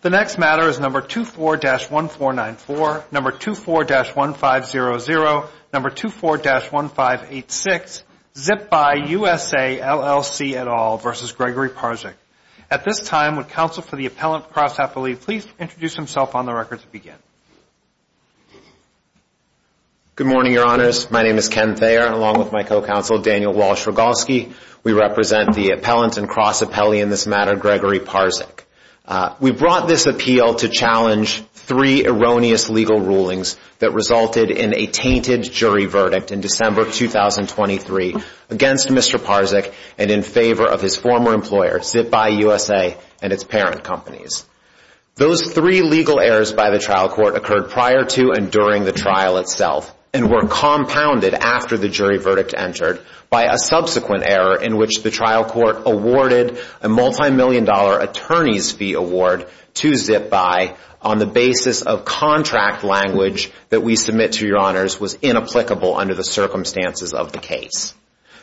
The next matter is number 24-1494, number 24-1500, number 24-1586, ZipBy USA LLC et al. v. Gregory Parzych. At this time, would counsel for the appellant, Cross Appellee, please introduce himself on the record to begin. Good morning, your honors. My name is Ken Thayer, along with my co-counsel, Daniel Walsh Rogalski. We represent the appellant and Cross Appellee in this matter, Gregory Parzych. We brought this appeal to challenge three erroneous legal rulings that resulted in a tainted jury verdict in December 2023 against Mr. Parzych and in favor of his former employer, ZipBy USA and its parent companies. Those three legal errors by the trial court occurred prior to and during the trial itself and were compounded after the jury verdict entered by a subsequent error in which the trial court awarded a multi-million dollar attorney's fee award to ZipBy on the basis of contract language that we submit to your honors was inapplicable under the circumstances of the case.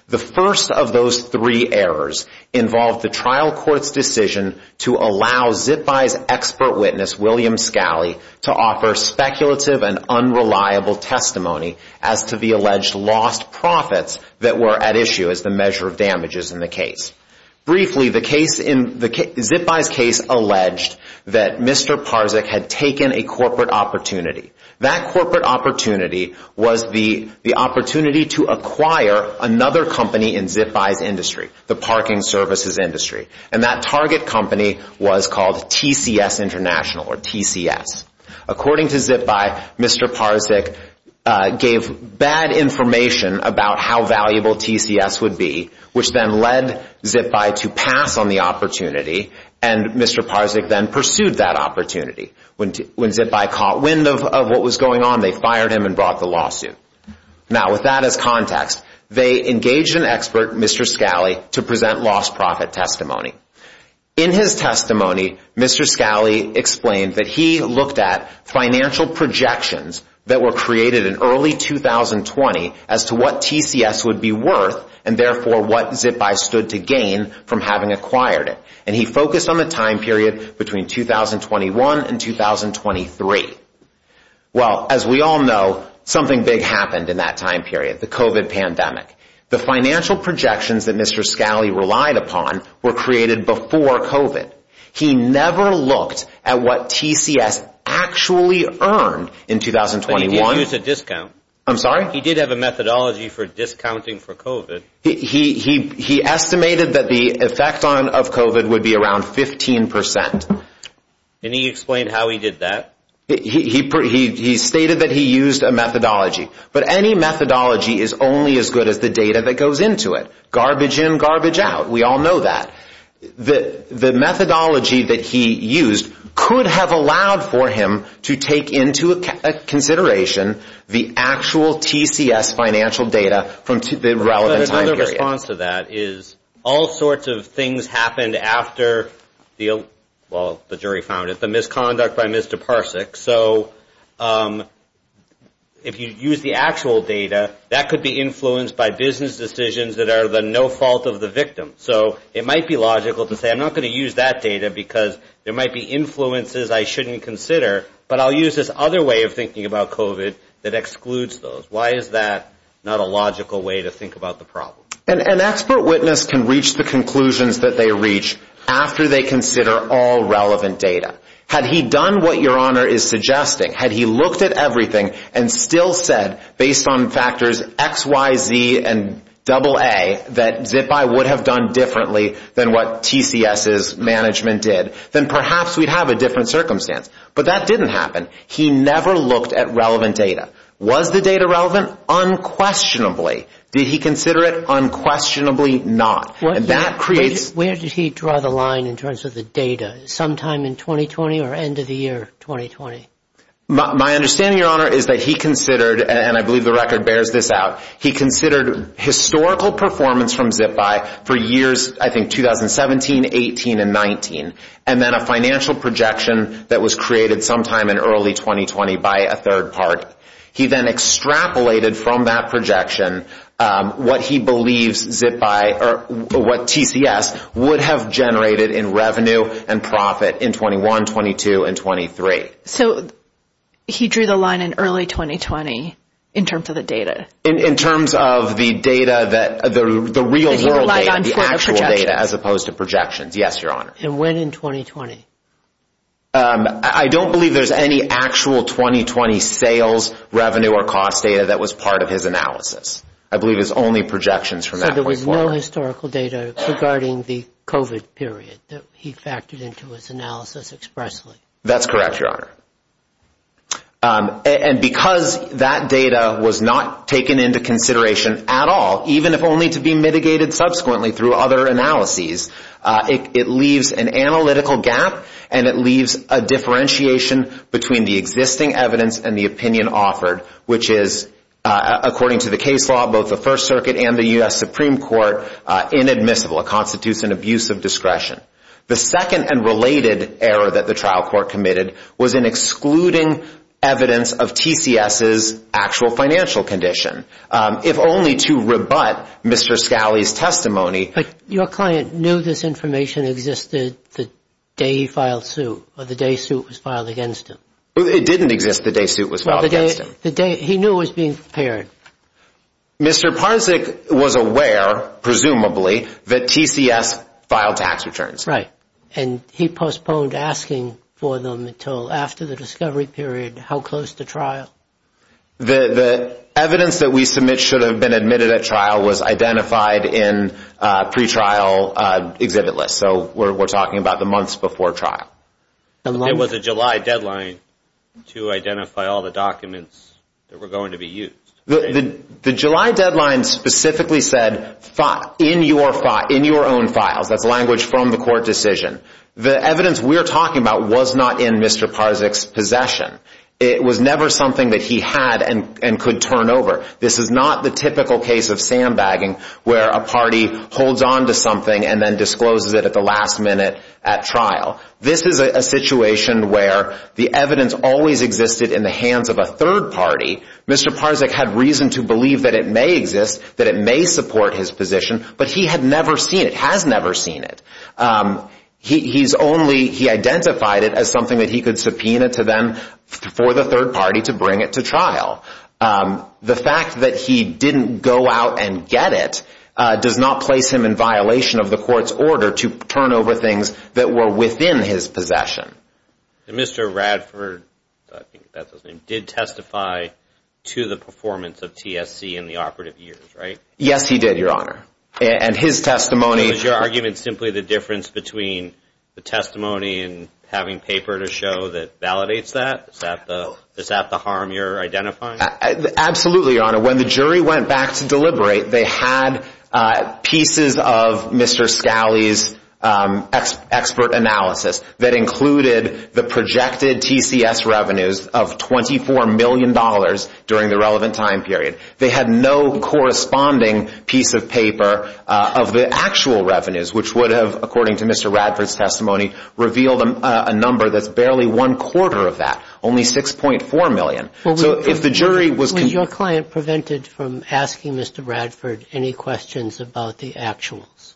The first of those three errors involved the trial court's decision to allow ZipBy's expert witness, William Scalley, to offer speculative and unreliable testimony as to the alleged lost profits that were at issue as the measure of damages in the case. According to ZipBy, Mr. Parzych gave bad information about how valuable TCS would be, which then led ZipBy to pass on the opportunity and Mr. Parzych then pursued that opportunity. When ZipBy caught wind of what was going on, they fired him and brought the lawsuit. Now, with that as context, they engaged an expert, Mr. Scalley, to present lost profit testimony. In his testimony, Mr. Scalley explained that he looked at financial projections that were created in early 2020 as to what TCS would be worth and therefore what ZipBy stood to gain from having acquired it. He focused on the time period between 2021 and 2023. Well, as we all know, something big happened in that time period, the COVID pandemic. The financial projections that Mr. Scalley relied upon were created before COVID. He never looked at what TCS actually earned in 2021. He did use a discount. I'm sorry? He did have a methodology for discounting for COVID. He estimated that the effect of COVID would be around 15%. Can you explain how he did that? He stated that he used a methodology. But any methodology is only as good as the data that goes into it. Garbage in, garbage out. We all know that. The methodology that he used could have allowed for him to take into consideration the actual TCS financial data from the relevant time period. Another response to that is all sorts of things happened after, well, the jury found it, the misconduct by Mr. Parsak. So if you use the actual data, that could be influenced by business decisions that are the no fault of the victim. So it might be logical to say I'm not going to use that data because there might be influences I shouldn't consider. But I'll use this other way of thinking about COVID that excludes those. Why is that not a logical way to think about the problem? An expert witness can reach the conclusions that they reach after they consider all relevant data. Had he done what your honor is suggesting, had he looked at everything and still said, based on factors XYZ and AA, that ZIPI would have done differently than what TCS's management did, then perhaps we'd have a different circumstance. But that didn't happen. He never looked at relevant data. Was the data relevant? Unquestionably. Did he consider it? Unquestionably not. Where did he draw the line in terms of the data? Sometime in 2020 or end of the year 2020? My understanding, your honor, is that he considered, and I believe the record bears this out, he considered historical performance from ZIPI for years, I think, 2017, 18, and 19. And then a financial projection that was created sometime in early 2020 by a third party. He then extrapolated from that projection what he believes ZIPI, or what TCS, would have generated in revenue and profit in 21, 22, and 23. So he drew the line in early 2020 in terms of the data? In terms of the data, the real world data, the actual data, as opposed to projections. Yes, your honor. And when in 2020? I don't believe there's any actual 2020 sales, revenue, or cost data that was part of his analysis. I believe it's only projections from that point forward. So there was no historical data regarding the COVID period that he factored into his analysis expressly? That's correct, your honor. And because that data was not taken into consideration at all, even if only to be mitigated subsequently through other analyses, it leaves an analytical gap, and it leaves a differentiation between the existing evidence and the opinion offered, which is, according to the case law, both the First Circuit and the U.S. Supreme Court, inadmissible. It constitutes an abuse of discretion. The second and related error that the trial court committed was in excluding evidence of TCS's actual financial condition, if only to rebut Mr. Scali's testimony. But your client knew this information existed the day he filed suit, or the day suit was filed against him? It didn't exist the day suit was filed against him. He knew it was being prepared. Mr. Parzyk was aware, presumably, that TCS filed tax returns. Right. And he postponed asking for them until after the discovery period. How close to trial? The evidence that we submit should have been admitted at trial was identified in pretrial exhibit lists. So we're talking about the months before trial. It was a July deadline to identify all the documents that were going to be used. The July deadline specifically said, in your own files. That's language from the court decision. The evidence we're talking about was not in Mr. Parzyk's possession. It was never something that he had and could turn over. This is not the typical case of sandbagging, where a party holds onto something and then discloses it at the last minute at trial. This is a situation where the evidence always existed in the hands of a third party. Mr. Parzyk had reason to believe that it may exist, that it may support his position, but he had never seen it, has never seen it. He's only, he identified it as something that he could subpoena to them for the third party to bring it to trial. The fact that he didn't go out and get it does not place him in violation of the court's order to turn over things that were within his possession. Mr. Radford, I think that's his name, did testify to the performance of TSC in the operative years, right? Yes, he did, Your Honor. And his testimony... Is your argument simply the difference between the testimony and having paper to show that validates that? Is that the harm you're identifying? Absolutely, Your Honor. When the jury went back to deliberate, they had pieces of Mr. Scali's expert analysis that included the projected TCS revenues of $24 million during the relevant time period. They had no corresponding piece of paper of the actual revenues, which would have, according to Mr. Radford's testimony, revealed a number that's barely one quarter of that, only $6.4 million. Was your client prevented from asking Mr. Radford any questions about the actuals?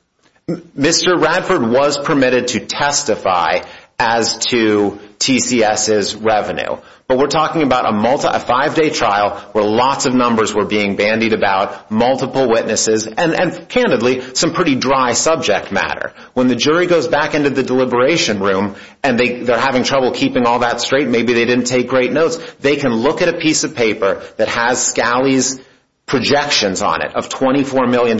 Mr. Radford was permitted to testify as to TCS's revenue. But we're talking about a five-day trial where lots of numbers were being bandied about, multiple witnesses, and candidly, some pretty dry subject matter. When the jury goes back into the deliberation room and they're having trouble keeping all that straight, maybe they didn't take great notes, they can look at a piece of paper that has Scali's projections on it of $24 million and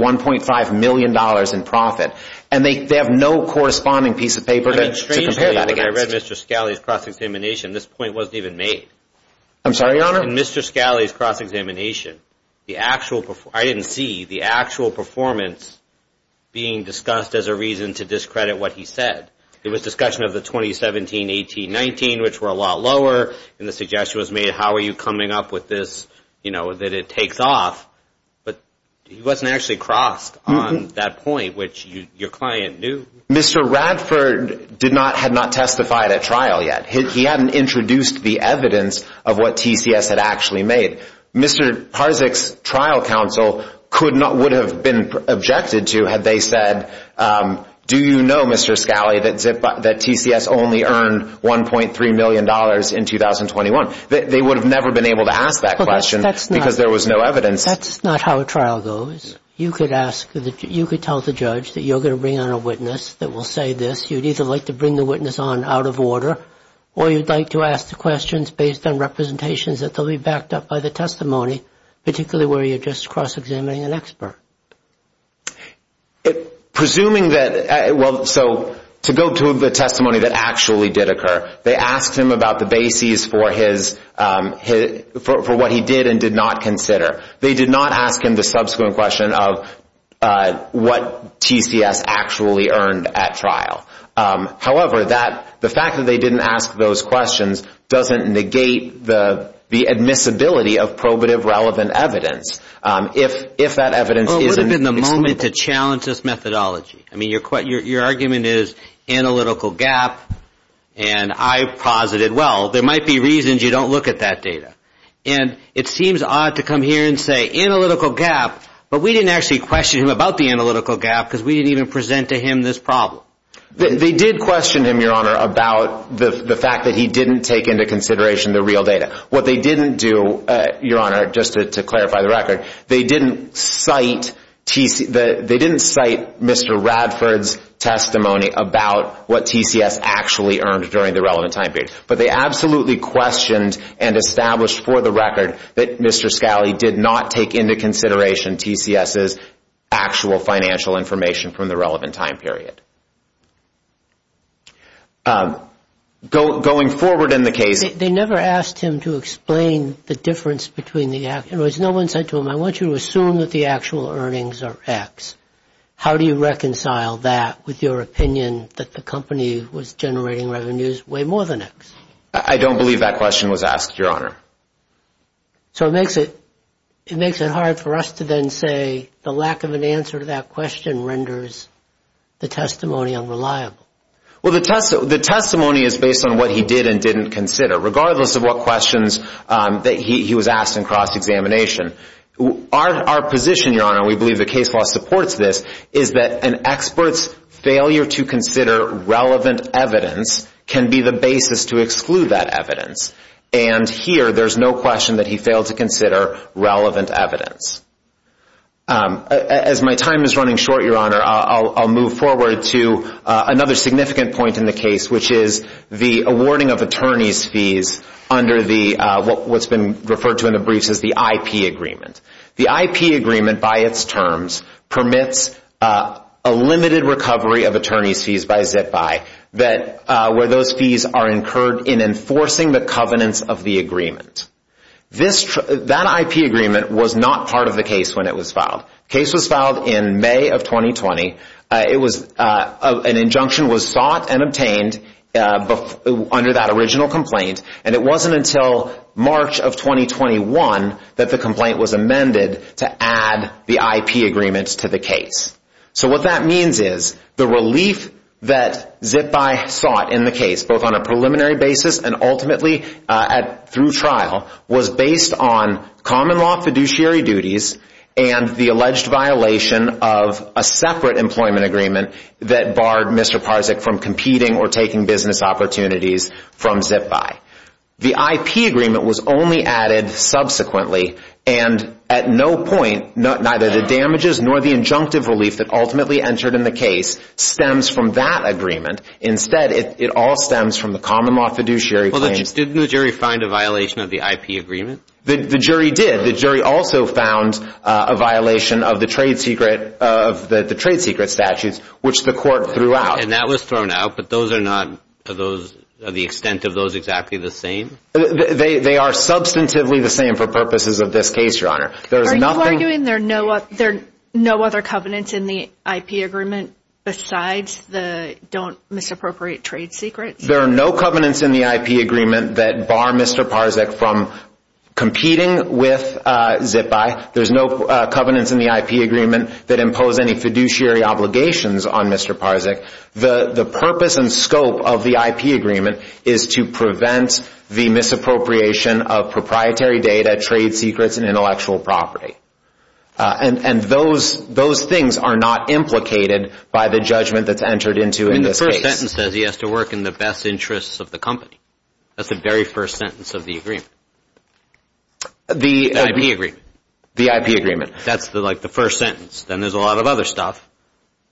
$1.5 million in profit, and they have no corresponding piece of paper to compare that against. I read Mr. Scali's cross-examination. This point wasn't even made. I'm sorry, Your Honor? In Mr. Scali's cross-examination, I didn't see the actual performance being discussed as a reason to discredit what he said. It was a discussion of the 2017-18-19, which were a lot lower, and the suggestion was made, how are you coming up with this, that it takes off? But he wasn't actually crossed on that point, which your client knew. Mr. Radford had not testified at trial yet. He hadn't introduced the evidence of what TCS had actually made. Mr. Parzyk's trial counsel would have been objected to had they said, do you know, Mr. Scali, that TCS only earned $1.3 million in 2021? They would have never been able to ask that question because there was no evidence. That's not how a trial goes. You could tell the judge that you're going to bring on a witness that will say this. You'd either like to bring the witness on out of order, or you'd like to ask the questions based on representations that they'll be backed up by the testimony, particularly where you're just cross-examining an expert. Presuming that, well, so to go to the testimony that actually did occur, they asked him about the bases for what he did and did not consider. They did not ask him the subsequent question of what TCS actually earned at trial. However, the fact that they didn't ask those questions doesn't negate the admissibility of probative relevant evidence. Well, it would have been the moment to challenge this methodology. I mean, your argument is analytical gap, and I posited, well, there might be reasons you don't look at that data. And it seems odd to come here and say analytical gap, but we didn't actually question him about the analytical gap because we didn't even present to him this problem. They did question him, Your Honor, about the fact that he didn't take into consideration the real data. What they didn't do, Your Honor, just to clarify the record, they didn't cite Mr. Radford's testimony about what TCS actually earned during the relevant time period. But they absolutely questioned and established for the record that Mr. Scali did not take into consideration TCS's actual financial information from the relevant time period. Going forward in the case... They never asked him to explain the difference between the... In other words, no one said to him, I want you to assume that the actual earnings are X. How do you reconcile that with your opinion that the company was generating revenues way more than X? I don't believe that question was asked, Your Honor. So it makes it hard for us to then say the lack of an answer to that question renders the testimony unreliable. Well, the testimony is based on what he did and didn't consider, regardless of what questions he was asked in cross-examination. Our position, Your Honor, and we believe the case law supports this, is that an expert's failure to consider relevant evidence can be the basis to exclude that evidence. And here, there's no question that he failed to consider relevant evidence. As my time is running short, Your Honor, I'll move forward to another significant point in the case, which is the awarding of attorney's fees under what's been referred to in the briefs as the IP Agreement. The IP Agreement, by its terms, permits a limited recovery of attorney's fees by zip-by, where those fees are incurred in enforcing the covenants of the agreement. That IP Agreement was not part of the case when it was filed. The case was filed in May of 2020. An injunction was sought and obtained under that original complaint, and it wasn't until March of 2021 that the complaint was amended to add the IP Agreement to the case. So what that means is the relief that zip-by sought in the case, both on a preliminary basis and ultimately through trial, was based on common law fiduciary duties and the alleged violation of a separate employment agreement that barred Mr. Parzyk from competing or taking business opportunities from zip-by. The IP Agreement was only added subsequently, and at no point, neither the damages nor the injunctive relief that ultimately entered in the case stems from that agreement. Instead, it all stems from the common law fiduciary claims. Well, didn't the jury find a violation of the IP Agreement? The jury did. The jury also found a violation of the trade secret statutes, which the court threw out. And that was thrown out, but are the extent of those exactly the same? They are substantively the same for purposes of this case, Your Honor. Are you arguing there are no other covenants in the IP Agreement besides the don't misappropriate trade secrets? There are no covenants in the IP Agreement that bar Mr. Parzyk from competing with zip-by. There's no covenants in the IP Agreement that impose any fiduciary obligations on Mr. Parzyk. The purpose and scope of the IP Agreement is to prevent the misappropriation of proprietary data, trade secrets, and intellectual property. And those things are not implicated by the judgment that's entered into this case. The first sentence says he has to work in the best interests of the company. That's the very first sentence of the agreement. The IP Agreement. The IP Agreement. That's the first sentence. Then there's a lot of other stuff,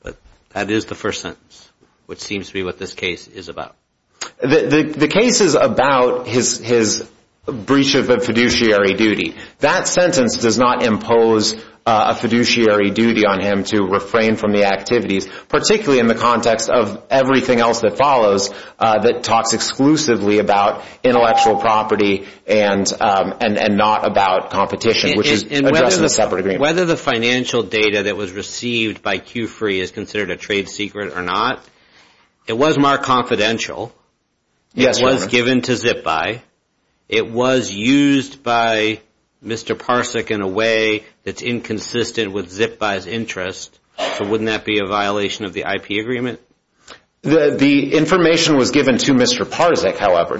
but that is the first sentence, which seems to be what this case is about. The case is about his breach of a fiduciary duty. That sentence does not impose a fiduciary duty on him to refrain from the activities, particularly in the context of everything else that follows that talks exclusively about intellectual property and not about competition, which is addressed in the separate agreement. Whether the financial data that was received by Q-Free is considered a trade secret or not, it was marked confidential. It was given to zip-by. It was used by Mr. Parzyk in a way that's inconsistent with zip-by's interest. So wouldn't that be a violation of the IP Agreement? The information was given to Mr. Parzyk, however.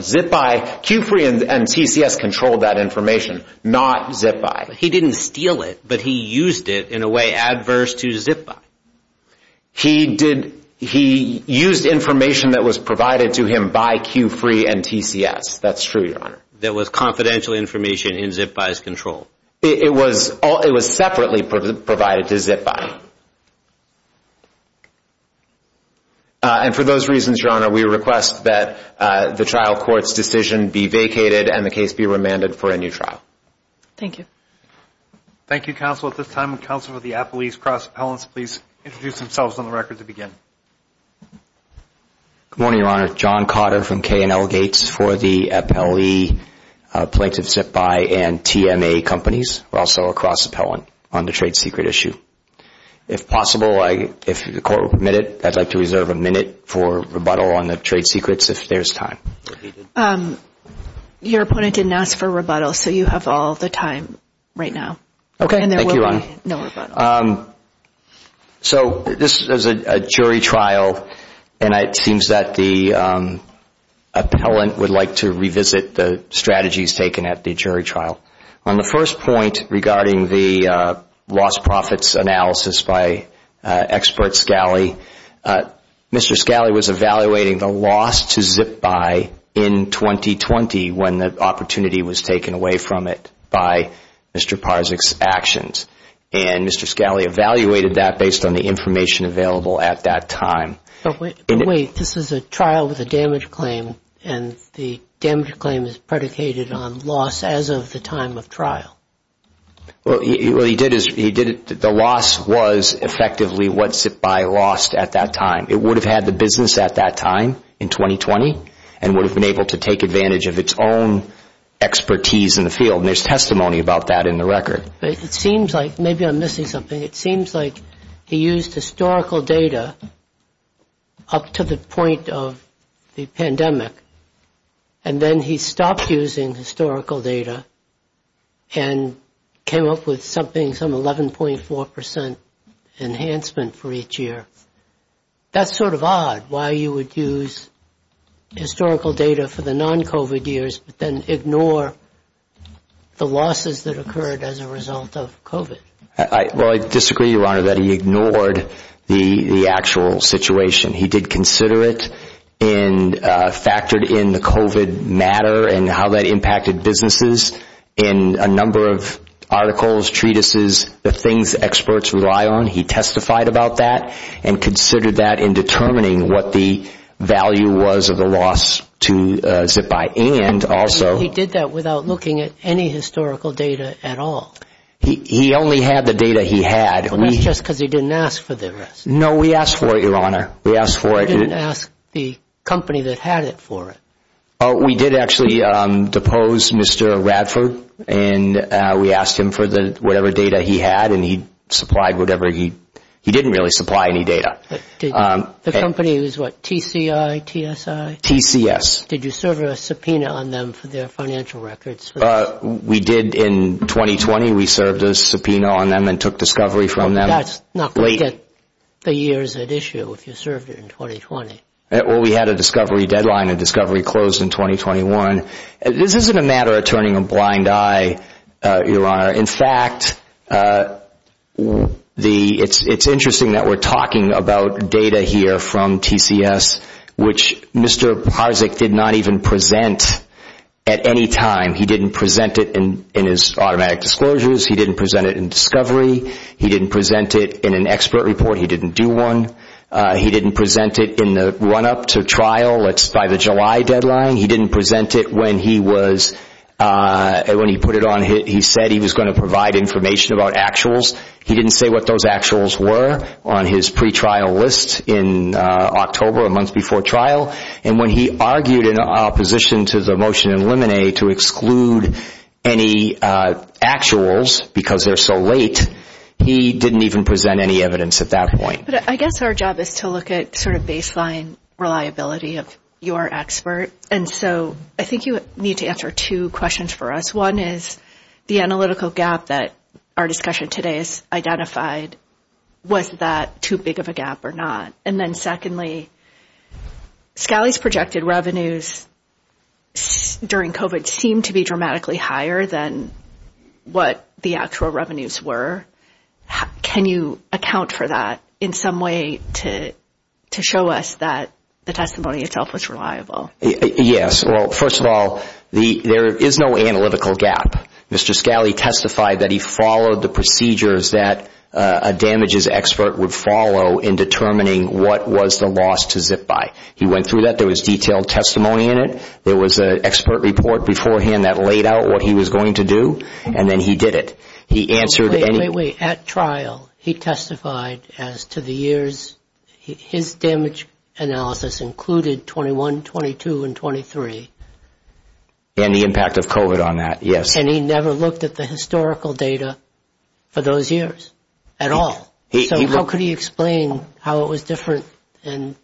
Q-Free and TCS controlled that information, not zip-by. He didn't steal it, but he used it in a way adverse to zip-by. He used information that was provided to him by Q-Free and TCS. That's true, Your Honor. That was confidential information in zip-by's control. It was separately provided to zip-by. And for those reasons, Your Honor, we request that the trial court's decision be vacated and the case be remanded for a new trial. Thank you. Thank you, counsel. At this time, counsel for the appellees, cross-appellants, please introduce themselves on the record to begin. Good morning, Your Honor. John Cotter from KNL Gates for the appellee plaintiff zip-by and TMA companies. We're also a cross-appellant on the trade secret issue. If possible, if the court will permit it, I'd like to reserve a minute for rebuttal on the trade secrets if there's time. Your opponent didn't ask for rebuttal, so you have all the time right now. Okay, thank you, Your Honor. And there will be no rebuttal. So this is a jury trial, and it seems that the appellant would like to revisit the strategies taken at the jury trial. On the first point regarding the lost profits analysis by Expert Scali, Mr. Scali was evaluating the loss to zip-by in 2020 when the opportunity was taken away from it by Mr. Parzyk's actions. And Mr. Scali evaluated that based on the information available at that time. But wait, this is a trial with a damage claim, and the damage claim is predicated on loss as of the time of trial. Well, what he did is he did it – the loss was effectively what zip-by lost at that time. It would have had the business at that time in 2020 and would have been able to take advantage of its own expertise in the field. And there's testimony about that in the record. But it seems like – maybe I'm missing something. It seems like he used historical data up to the point of the pandemic, and then he stopped using historical data and came up with something, some 11.4 percent enhancement for each year. That's sort of odd, why you would use historical data for the non-COVID years but then ignore the losses that occurred as a result of COVID. Well, I disagree, Your Honor, that he ignored the actual situation. He did consider it and factored in the COVID matter and how that impacted businesses in a number of articles, treatises, the things experts rely on. He testified about that and considered that in determining what the value was of the loss to zip-by and also – But he did that without looking at any historical data at all. He only had the data he had. Well, that's just because he didn't ask for the rest. No, we asked for it, Your Honor. We asked for it. You didn't ask the company that had it for it. We did actually depose Mr. Radford, and we asked him for whatever data he had, and he supplied whatever he – he didn't really supply any data. The company was what, TCI, TSI? TCS. Did you serve a subpoena on them for their financial records? We did in 2020. We served a subpoena on them and took discovery from them. That's not going to get the years at issue if you served it in 2020. Well, we had a discovery deadline and discovery closed in 2021. This isn't a matter of turning a blind eye, Your Honor. In fact, it's interesting that we're talking about data here from TCS, which Mr. Harzik did not even present at any time. He didn't present it in his automatic disclosures. He didn't present it in discovery. He didn't present it in an expert report. He didn't do one. He didn't present it in the run-up to trial. It's by the July deadline. He didn't present it when he was – when he put it on – he said he was going to provide information about actuals. He didn't say what those actuals were on his pretrial list in October, a month before trial. And when he argued in opposition to the motion in Limine to exclude any actuals because they're so late, he didn't even present any evidence at that point. But I guess our job is to look at sort of baseline reliability of your expert. And so I think you need to answer two questions for us. One is the analytical gap that our discussion today has identified. Was that too big of a gap or not? And then secondly, SCALI's projected revenues during COVID seem to be dramatically higher than what the actual revenues were. Can you account for that in some way to show us that the testimony itself was reliable? Yes. Well, first of all, there is no analytical gap. Mr. SCALI testified that he followed the procedures that a damages expert would follow in determining what was the loss to zip by. He went through that. There was detailed testimony in it. There was an expert report beforehand that laid out what he was going to do. And then he did it. He answered. Wait, wait, wait. At trial, he testified as to the years his damage analysis included 21, 22 and 23. And the impact of COVID on that. Yes. And he never looked at the historical data for those years at all. So how could he explain how it was different and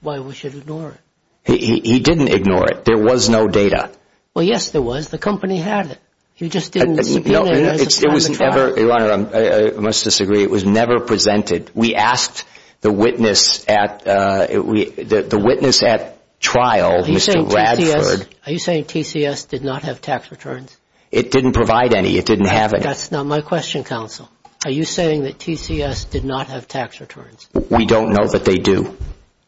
why we should ignore it? He didn't ignore it. There was no data. Well, yes, there was. The company had it. You just didn't. No, it was never. Your Honor, I must disagree. It was never presented. We asked the witness at the witness at trial, Mr. Bradford. Are you saying TCS did not have tax returns? It didn't provide any. It didn't have it. That's not my question, counsel. Are you saying that TCS did not have tax returns? We don't know that they do.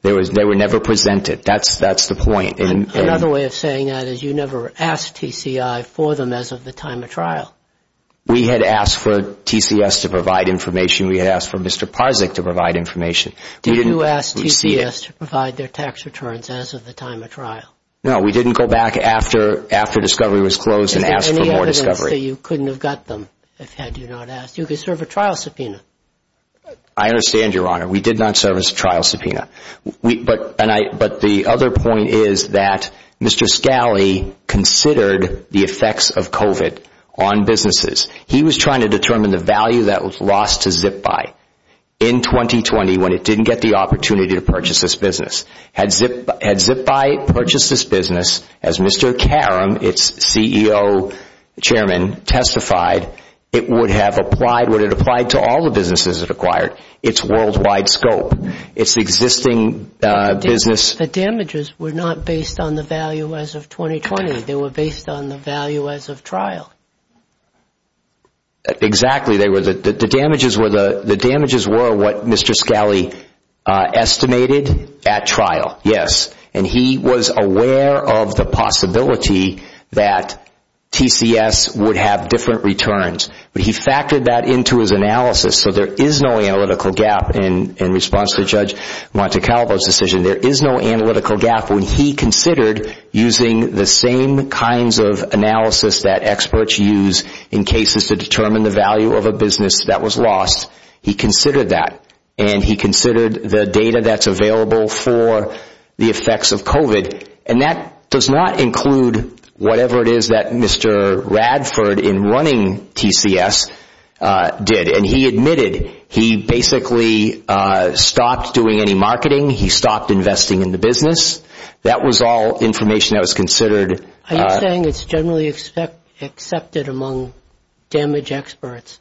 There was they were never presented. That's that's the point. Another way of saying that is you never asked TCI for them as of the time of trial. We had asked for TCS to provide information. We had asked for Mr. Parzyk to provide information. Did you ask TCS to provide their tax returns as of the time of trial? No, we didn't go back after after discovery was closed and asked for more discovery. You couldn't have got them if had you not asked. You could serve a trial subpoena. I understand, Your Honor. We did not serve as a trial subpoena. But the other point is that Mr. Scali considered the effects of COVID on businesses. He was trying to determine the value that was lost to ZipBuy in 2020 when it didn't get the opportunity to purchase this business. Had ZipBuy purchased this business, as Mr. Karam, its CEO chairman, testified, it would have applied to all the businesses it acquired. It's worldwide scope. It's existing business. The damages were not based on the value as of 2020. They were based on the value as of trial. Exactly. The damages were what Mr. Scali estimated at trial, yes. And he was aware of the possibility that TCS would have different returns. But he factored that into his analysis so there is no analytical gap in response to Judge Montecalvo's decision. There is no analytical gap when he considered using the same kinds of analysis that experts use in cases to determine the value of a business that was lost. He considered that. And he considered the data that's available for the effects of COVID. And that does not include whatever it is that Mr. Radford in running TCS did. And he admitted he basically stopped doing any marketing. He stopped investing in the business. That was all information that was considered. Are you saying it's generally accepted among damage experts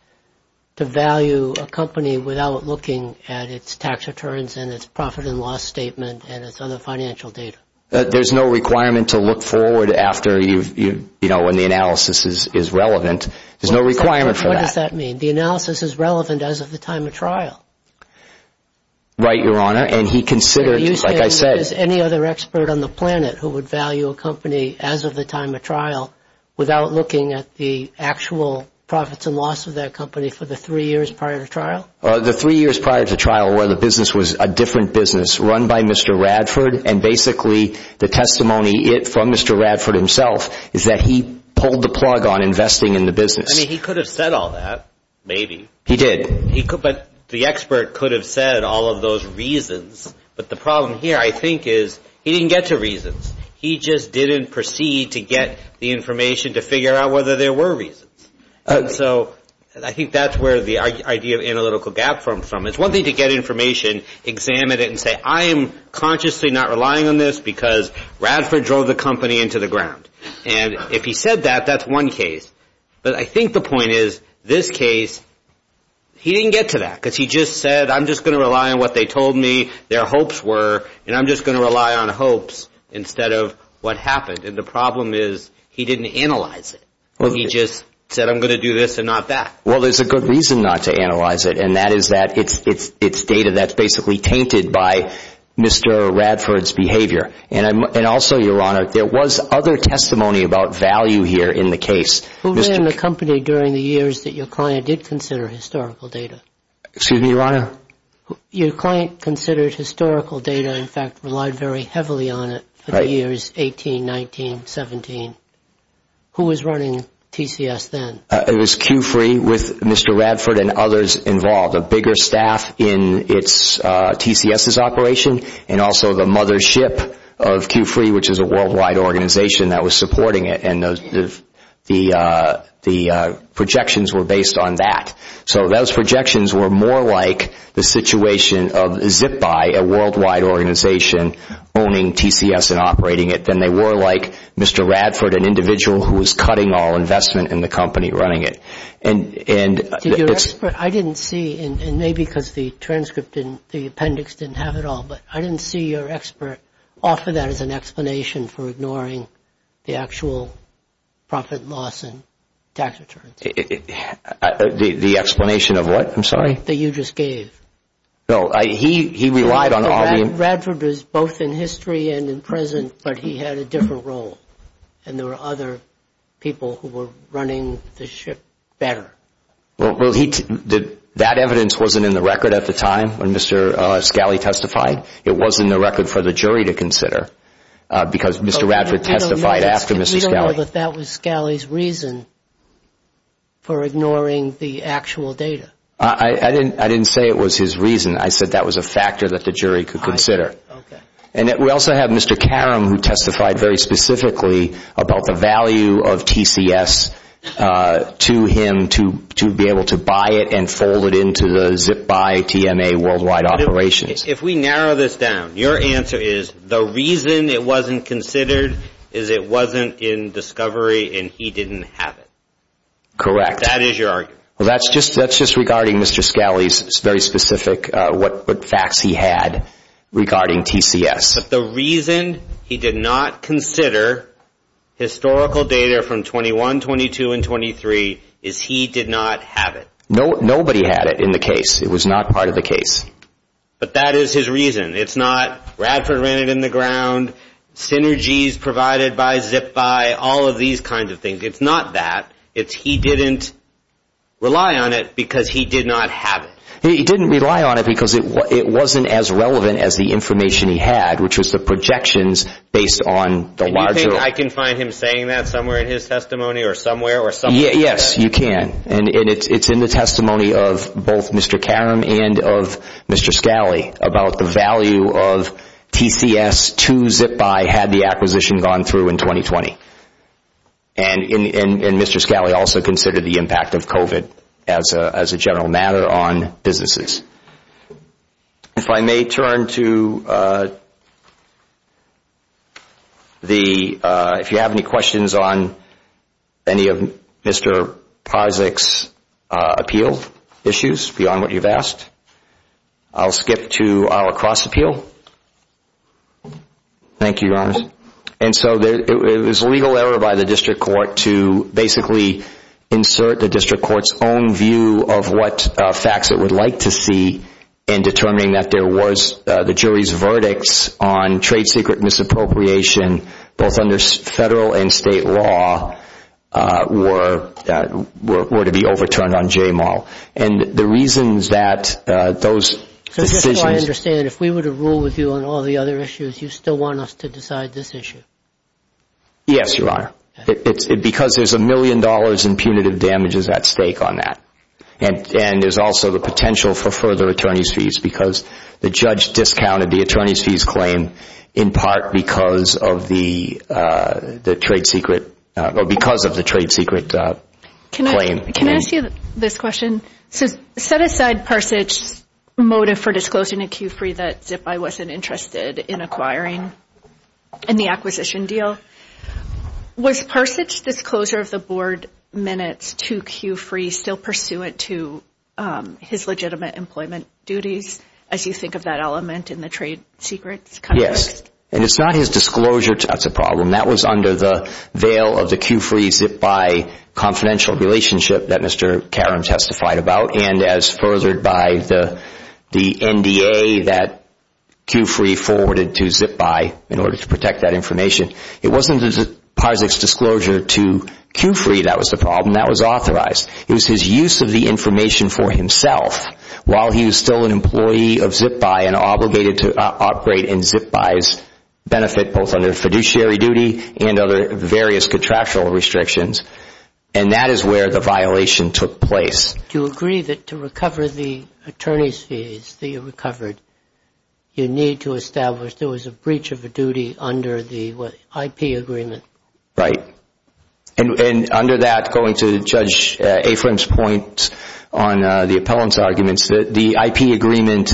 to value a company without looking at its tax returns and its profit and loss statement and its other financial data? There's no requirement to look forward when the analysis is relevant. There's no requirement for that. What does that mean? The analysis is relevant as of the time of trial. Right, Your Honor. Are you saying there's any other expert on the planet who would value a company as of the time of trial without looking at the actual profits and loss of that company for the three years prior to trial? The three years prior to trial where the business was a different business run by Mr. Radford and basically the testimony from Mr. Radford himself is that he pulled the plug on investing in the business. I mean, he could have said all that, maybe. He did. But the expert could have said all of those reasons. But the problem here, I think, is he didn't get to reasons. He just didn't proceed to get the information to figure out whether there were reasons. So I think that's where the idea of analytical gap comes from. It's one thing to get information, examine it, and say, I am consciously not relying on this because Radford drove the company into the ground. And if he said that, that's one case. But I think the point is this case, he didn't get to that because he just said, I'm just going to rely on what they told me their hopes were, and I'm just going to rely on hopes instead of what happened. And the problem is he didn't analyze it. He just said, I'm going to do this and not that. Well, there's a good reason not to analyze it, and that is that it's data that's basically tainted by Mr. Radford's behavior. And also, Your Honor, there was other testimony about value here in the case. Who ran the company during the years that your client did consider historical data? Excuse me, Your Honor? Your client considered historical data, in fact, relied very heavily on it for the years 18, 19, 17. Who was running TCS then? It was Q-Free with Mr. Radford and others involved. A bigger staff in TCS's operation and also the mothership of Q-Free, which is a worldwide organization that was supporting it. And the projections were based on that. So those projections were more like the situation of ZipBuy, a worldwide organization owning TCS and operating it, than they were like Mr. Radford, an individual who was cutting all investment in the company running it. I didn't see, and maybe because the transcript and the appendix didn't have it all, but I didn't see your expert offer that as an explanation for ignoring the actual profit loss and tax returns. The explanation of what, I'm sorry? That you just gave. No, he relied on all the... Radford was both in history and in present, but he had a different role. And there were other people who were running the ship better. Well, that evidence wasn't in the record at the time when Mr. Scali testified. It wasn't in the record for the jury to consider because Mr. Radford testified after Mr. Scali. I didn't know that that was Scali's reason for ignoring the actual data. I didn't say it was his reason. I said that was a factor that the jury could consider. And we also have Mr. Karam who testified very specifically about the value of TCS to him to be able to buy it and fold it into the ZipBuy TMA worldwide operations. If we narrow this down, your answer is the reason it wasn't considered is it wasn't in discovery and he didn't have it. Correct. That is your argument. That's just regarding Mr. Scali's very specific facts he had regarding TCS. But the reason he did not consider historical data from 21, 22, and 23 is he did not have it. Nobody had it in the case. It was not part of the case. That is his reason. It's not Radford ran it in the ground, synergies provided by ZipBuy, all of these kinds of things. It's not that. It's he didn't rely on it because he did not have it. He didn't rely on it because it wasn't as relevant as the information he had which was the projections based on the larger... Do you think I can find him saying that somewhere in his testimony or somewhere? Yes, you can. And it's in the testimony of both Mr. Karam and of Mr. Scali about the value of TCS to ZipBuy had the acquisition gone through in 2020. And Mr. Scali also considered the impact of COVID as a general matter on businesses. If I may turn to the, if you have any questions on any of Mr. Parzyk's appeal issues beyond what you've asked. I'll skip to our cross appeal. Thank you, Your Honor. And so it was a legal error by the district court to basically insert the district court's own view of what facts it would like to see in determining that there was the jury's verdicts on trade secret misappropriation both under federal and state law were to be overturned on J-Mall. And the reasons that those decisions... Yes, Your Honor. Because there's a million dollars in punitive damages at stake on that. And there's also the potential for further attorney's fees because the judge discounted the attorney's fees claim in part because of the trade secret, or because of the trade secret claim. Can I ask you this question? So set aside Parzyk's motive for disclosing a Q-Free that ZipBy wasn't interested in acquiring in the acquisition deal. Was Parzyk's disclosure of the board minutes to Q-Free still pursuant to his legitimate employment duties as you think of that element in the trade secrets? Yes. And it's not his disclosure that's a problem. That was under the veil of the Q-Free-ZipBy confidential relationship that Mr. Karam testified about. And as furthered by the NDA that Q-Free forwarded to ZipBy in order to protect that information. It wasn't Parzyk's disclosure to Q-Free that was the problem. That was authorized. It was his use of the information for himself while he was still an employee of ZipBy and obligated to operate in ZipBy's benefit both under fiduciary duty and other various contractual restrictions. And that is where the violation took place. Do you agree that to recover the attorney's fees that you recovered, you need to establish there was a breach of a duty under the IP agreement? Right. And under that, going to Judge Afram's point on the appellant's arguments, the IP agreement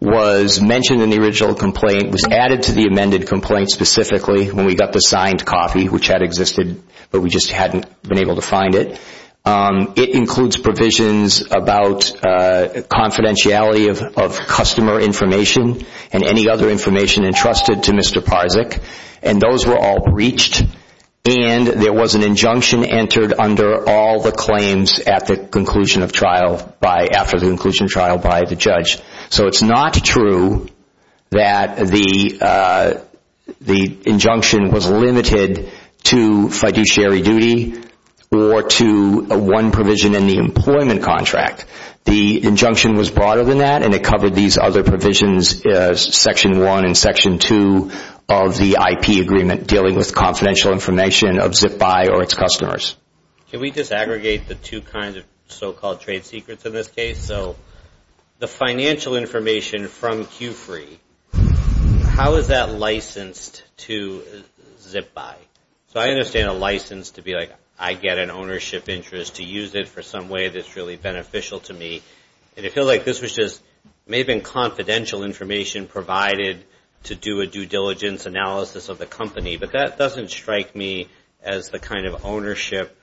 was mentioned in the original complaint, was added to the amended complaint specifically when we got the signed copy, which had existed, but we just hadn't been able to find it. It includes provisions about confidentiality of customer information and any other information entrusted to Mr. Parzyk. And those were all breached. And there was an injunction entered under all the claims after the conclusion of trial by the judge. So it's not true that the injunction was limited to fiduciary duty or to one provision in the employment contract. The injunction was broader than that, and it covered these other provisions, Section 1 and Section 2 of the IP agreement dealing with confidential information of ZipBuy or its customers. Can we just aggregate the two kinds of so-called trade secrets in this case? So the financial information from Q-Free, how is that licensed to ZipBuy? So I understand a license to be like, I get an ownership interest to use it for some way that's really beneficial to me. And I feel like this may have been confidential information provided to do a due diligence analysis of the company, but that doesn't strike me as the kind of ownership.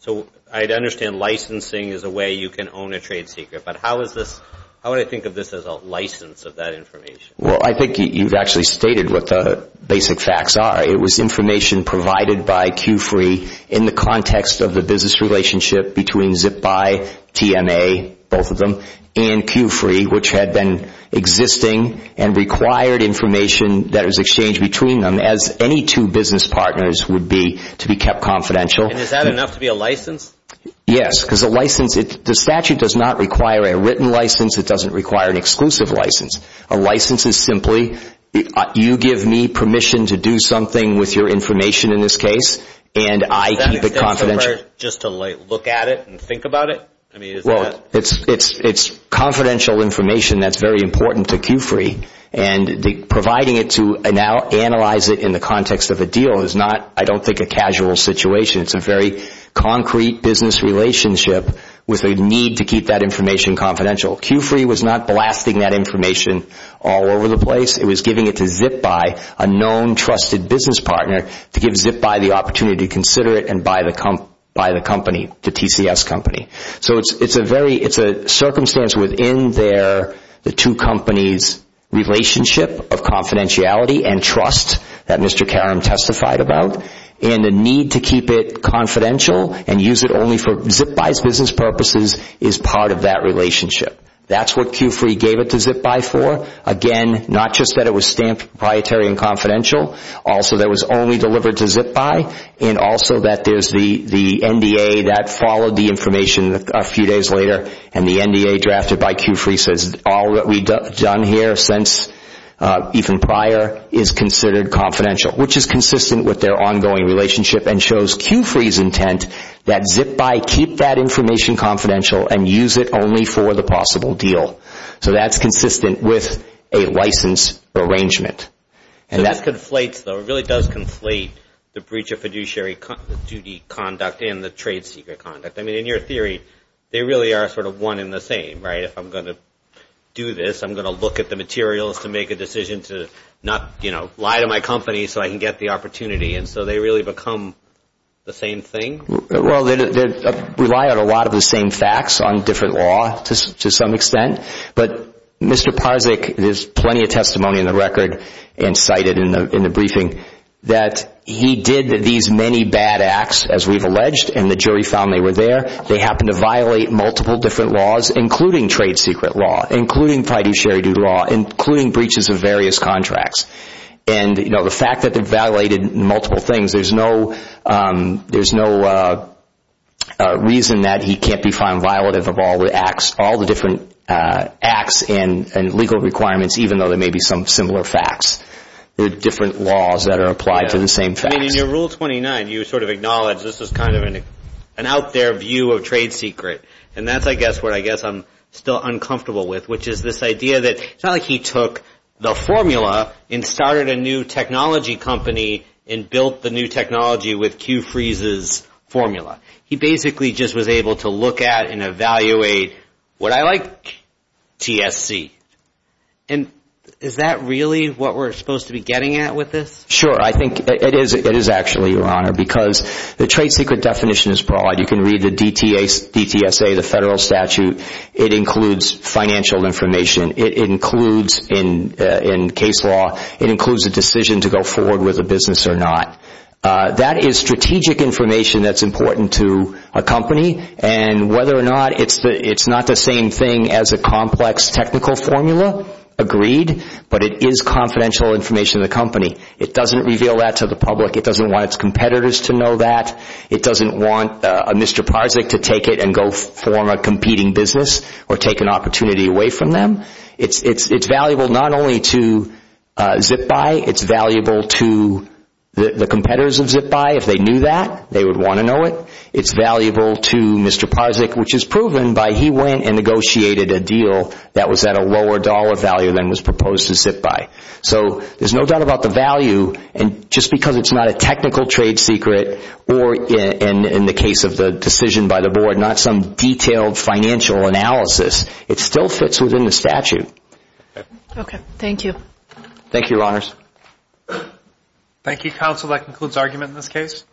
So I understand licensing is a way you can own a trade secret, but how would I think of this as a license of that information? Well, I think you've actually stated what the basic facts are. It was information provided by Q-Free in the context of the business relationship between ZipBuy, TMA, both of them, and Q-Free, which had been existing and required information that was exchanged between them as any two business partners would be to be kept confidential. And is that enough to be a license? Yes, because a license, the statute does not require a written license. It doesn't require an exclusive license. A license is simply you give me permission to do something with your information in this case, and I keep it confidential. Is that necessary just to look at it and think about it? Well, it's confidential information that's very important to Q-Free, and providing it to analyze it in the context of a deal is not, I don't think, a casual situation. It's a very concrete business relationship with a need to keep that information confidential. Q-Free was not blasting that information all over the place. It was giving it to ZipBuy, a known, trusted business partner, to give ZipBuy the opportunity to consider it and buy the company, the TCS company. So it's a circumstance within the two companies' relationship of confidentiality and trust that Mr. Karam testified about, and the need to keep it confidential and use it only for ZipBuy's business purposes is part of that relationship. That's what Q-Free gave it to ZipBuy for. Again, not just that it was proprietary and confidential, also that it was only delivered to ZipBuy, and also that there's the NDA that followed the information a few days later, and the NDA drafted by Q-Free says all that we've done here since even prior is considered confidential, which is consistent with their ongoing relationship and shows Q-Free's intent that ZipBuy keep that information confidential and use it only for the possible deal. So that's consistent with a license arrangement. So this conflates, though, it really does conflate the breach of fiduciary duty conduct and the trade secret conduct. I mean, in your theory, they really are sort of one and the same, right? If I'm going to do this, I'm going to look at the materials to make a decision to not, you know, lie to my company so I can get the opportunity, and so they really become the same thing? Well, they rely on a lot of the same facts on different law to some extent, but Mr. Parzyk, there's plenty of testimony in the record and cited in the briefing, that he did these many bad acts, as we've alleged, and the jury found they were there. They happened to violate multiple different laws, including trade secret law, including fiduciary duty law, including breaches of various contracts. And, you know, the fact that they violated multiple things, there's no reason that he can't be found violative of all the acts, all the different acts and legal requirements, even though there may be some similar facts. There are different laws that are applied to the same facts. I mean, in your Rule 29, you sort of acknowledge this is kind of an out there view of trade secret, and that's, I guess, what I guess I'm still uncomfortable with, which is this idea that it's not like he took the formula and started a new technology company and built the new technology with Q-Freeze's formula. He basically just was able to look at and evaluate what I like, TSC. And is that really what we're supposed to be getting at with this? Sure. I think it is actually, Your Honor, because the trade secret definition is broad. You can read the DTSA, the federal statute. It includes financial information. It includes, in case law, it includes a decision to go forward with a business or not. That is strategic information that's important to a company, and whether or not it's not the same thing as a complex technical formula, agreed, but it is confidential information to the company. It doesn't reveal that to the public. It doesn't want its competitors to know that. It doesn't want Mr. Parzyk to take it and go form a competing business or take an opportunity away from them. It's valuable not only to ZipBuy. It's valuable to the competitors of ZipBuy if they knew that. They would want to know it. It's valuable to Mr. Parzyk, which is proven by he went and negotiated a deal that was at a lower dollar value than was proposed to ZipBuy. So there's no doubt about the value, and just because it's not a technical trade secret or in the case of the decision by the board, not some detailed financial analysis, it still fits within the statute. Okay. Thank you. Thank you, Your Honors. Thank you, Counsel. That concludes argument in this case.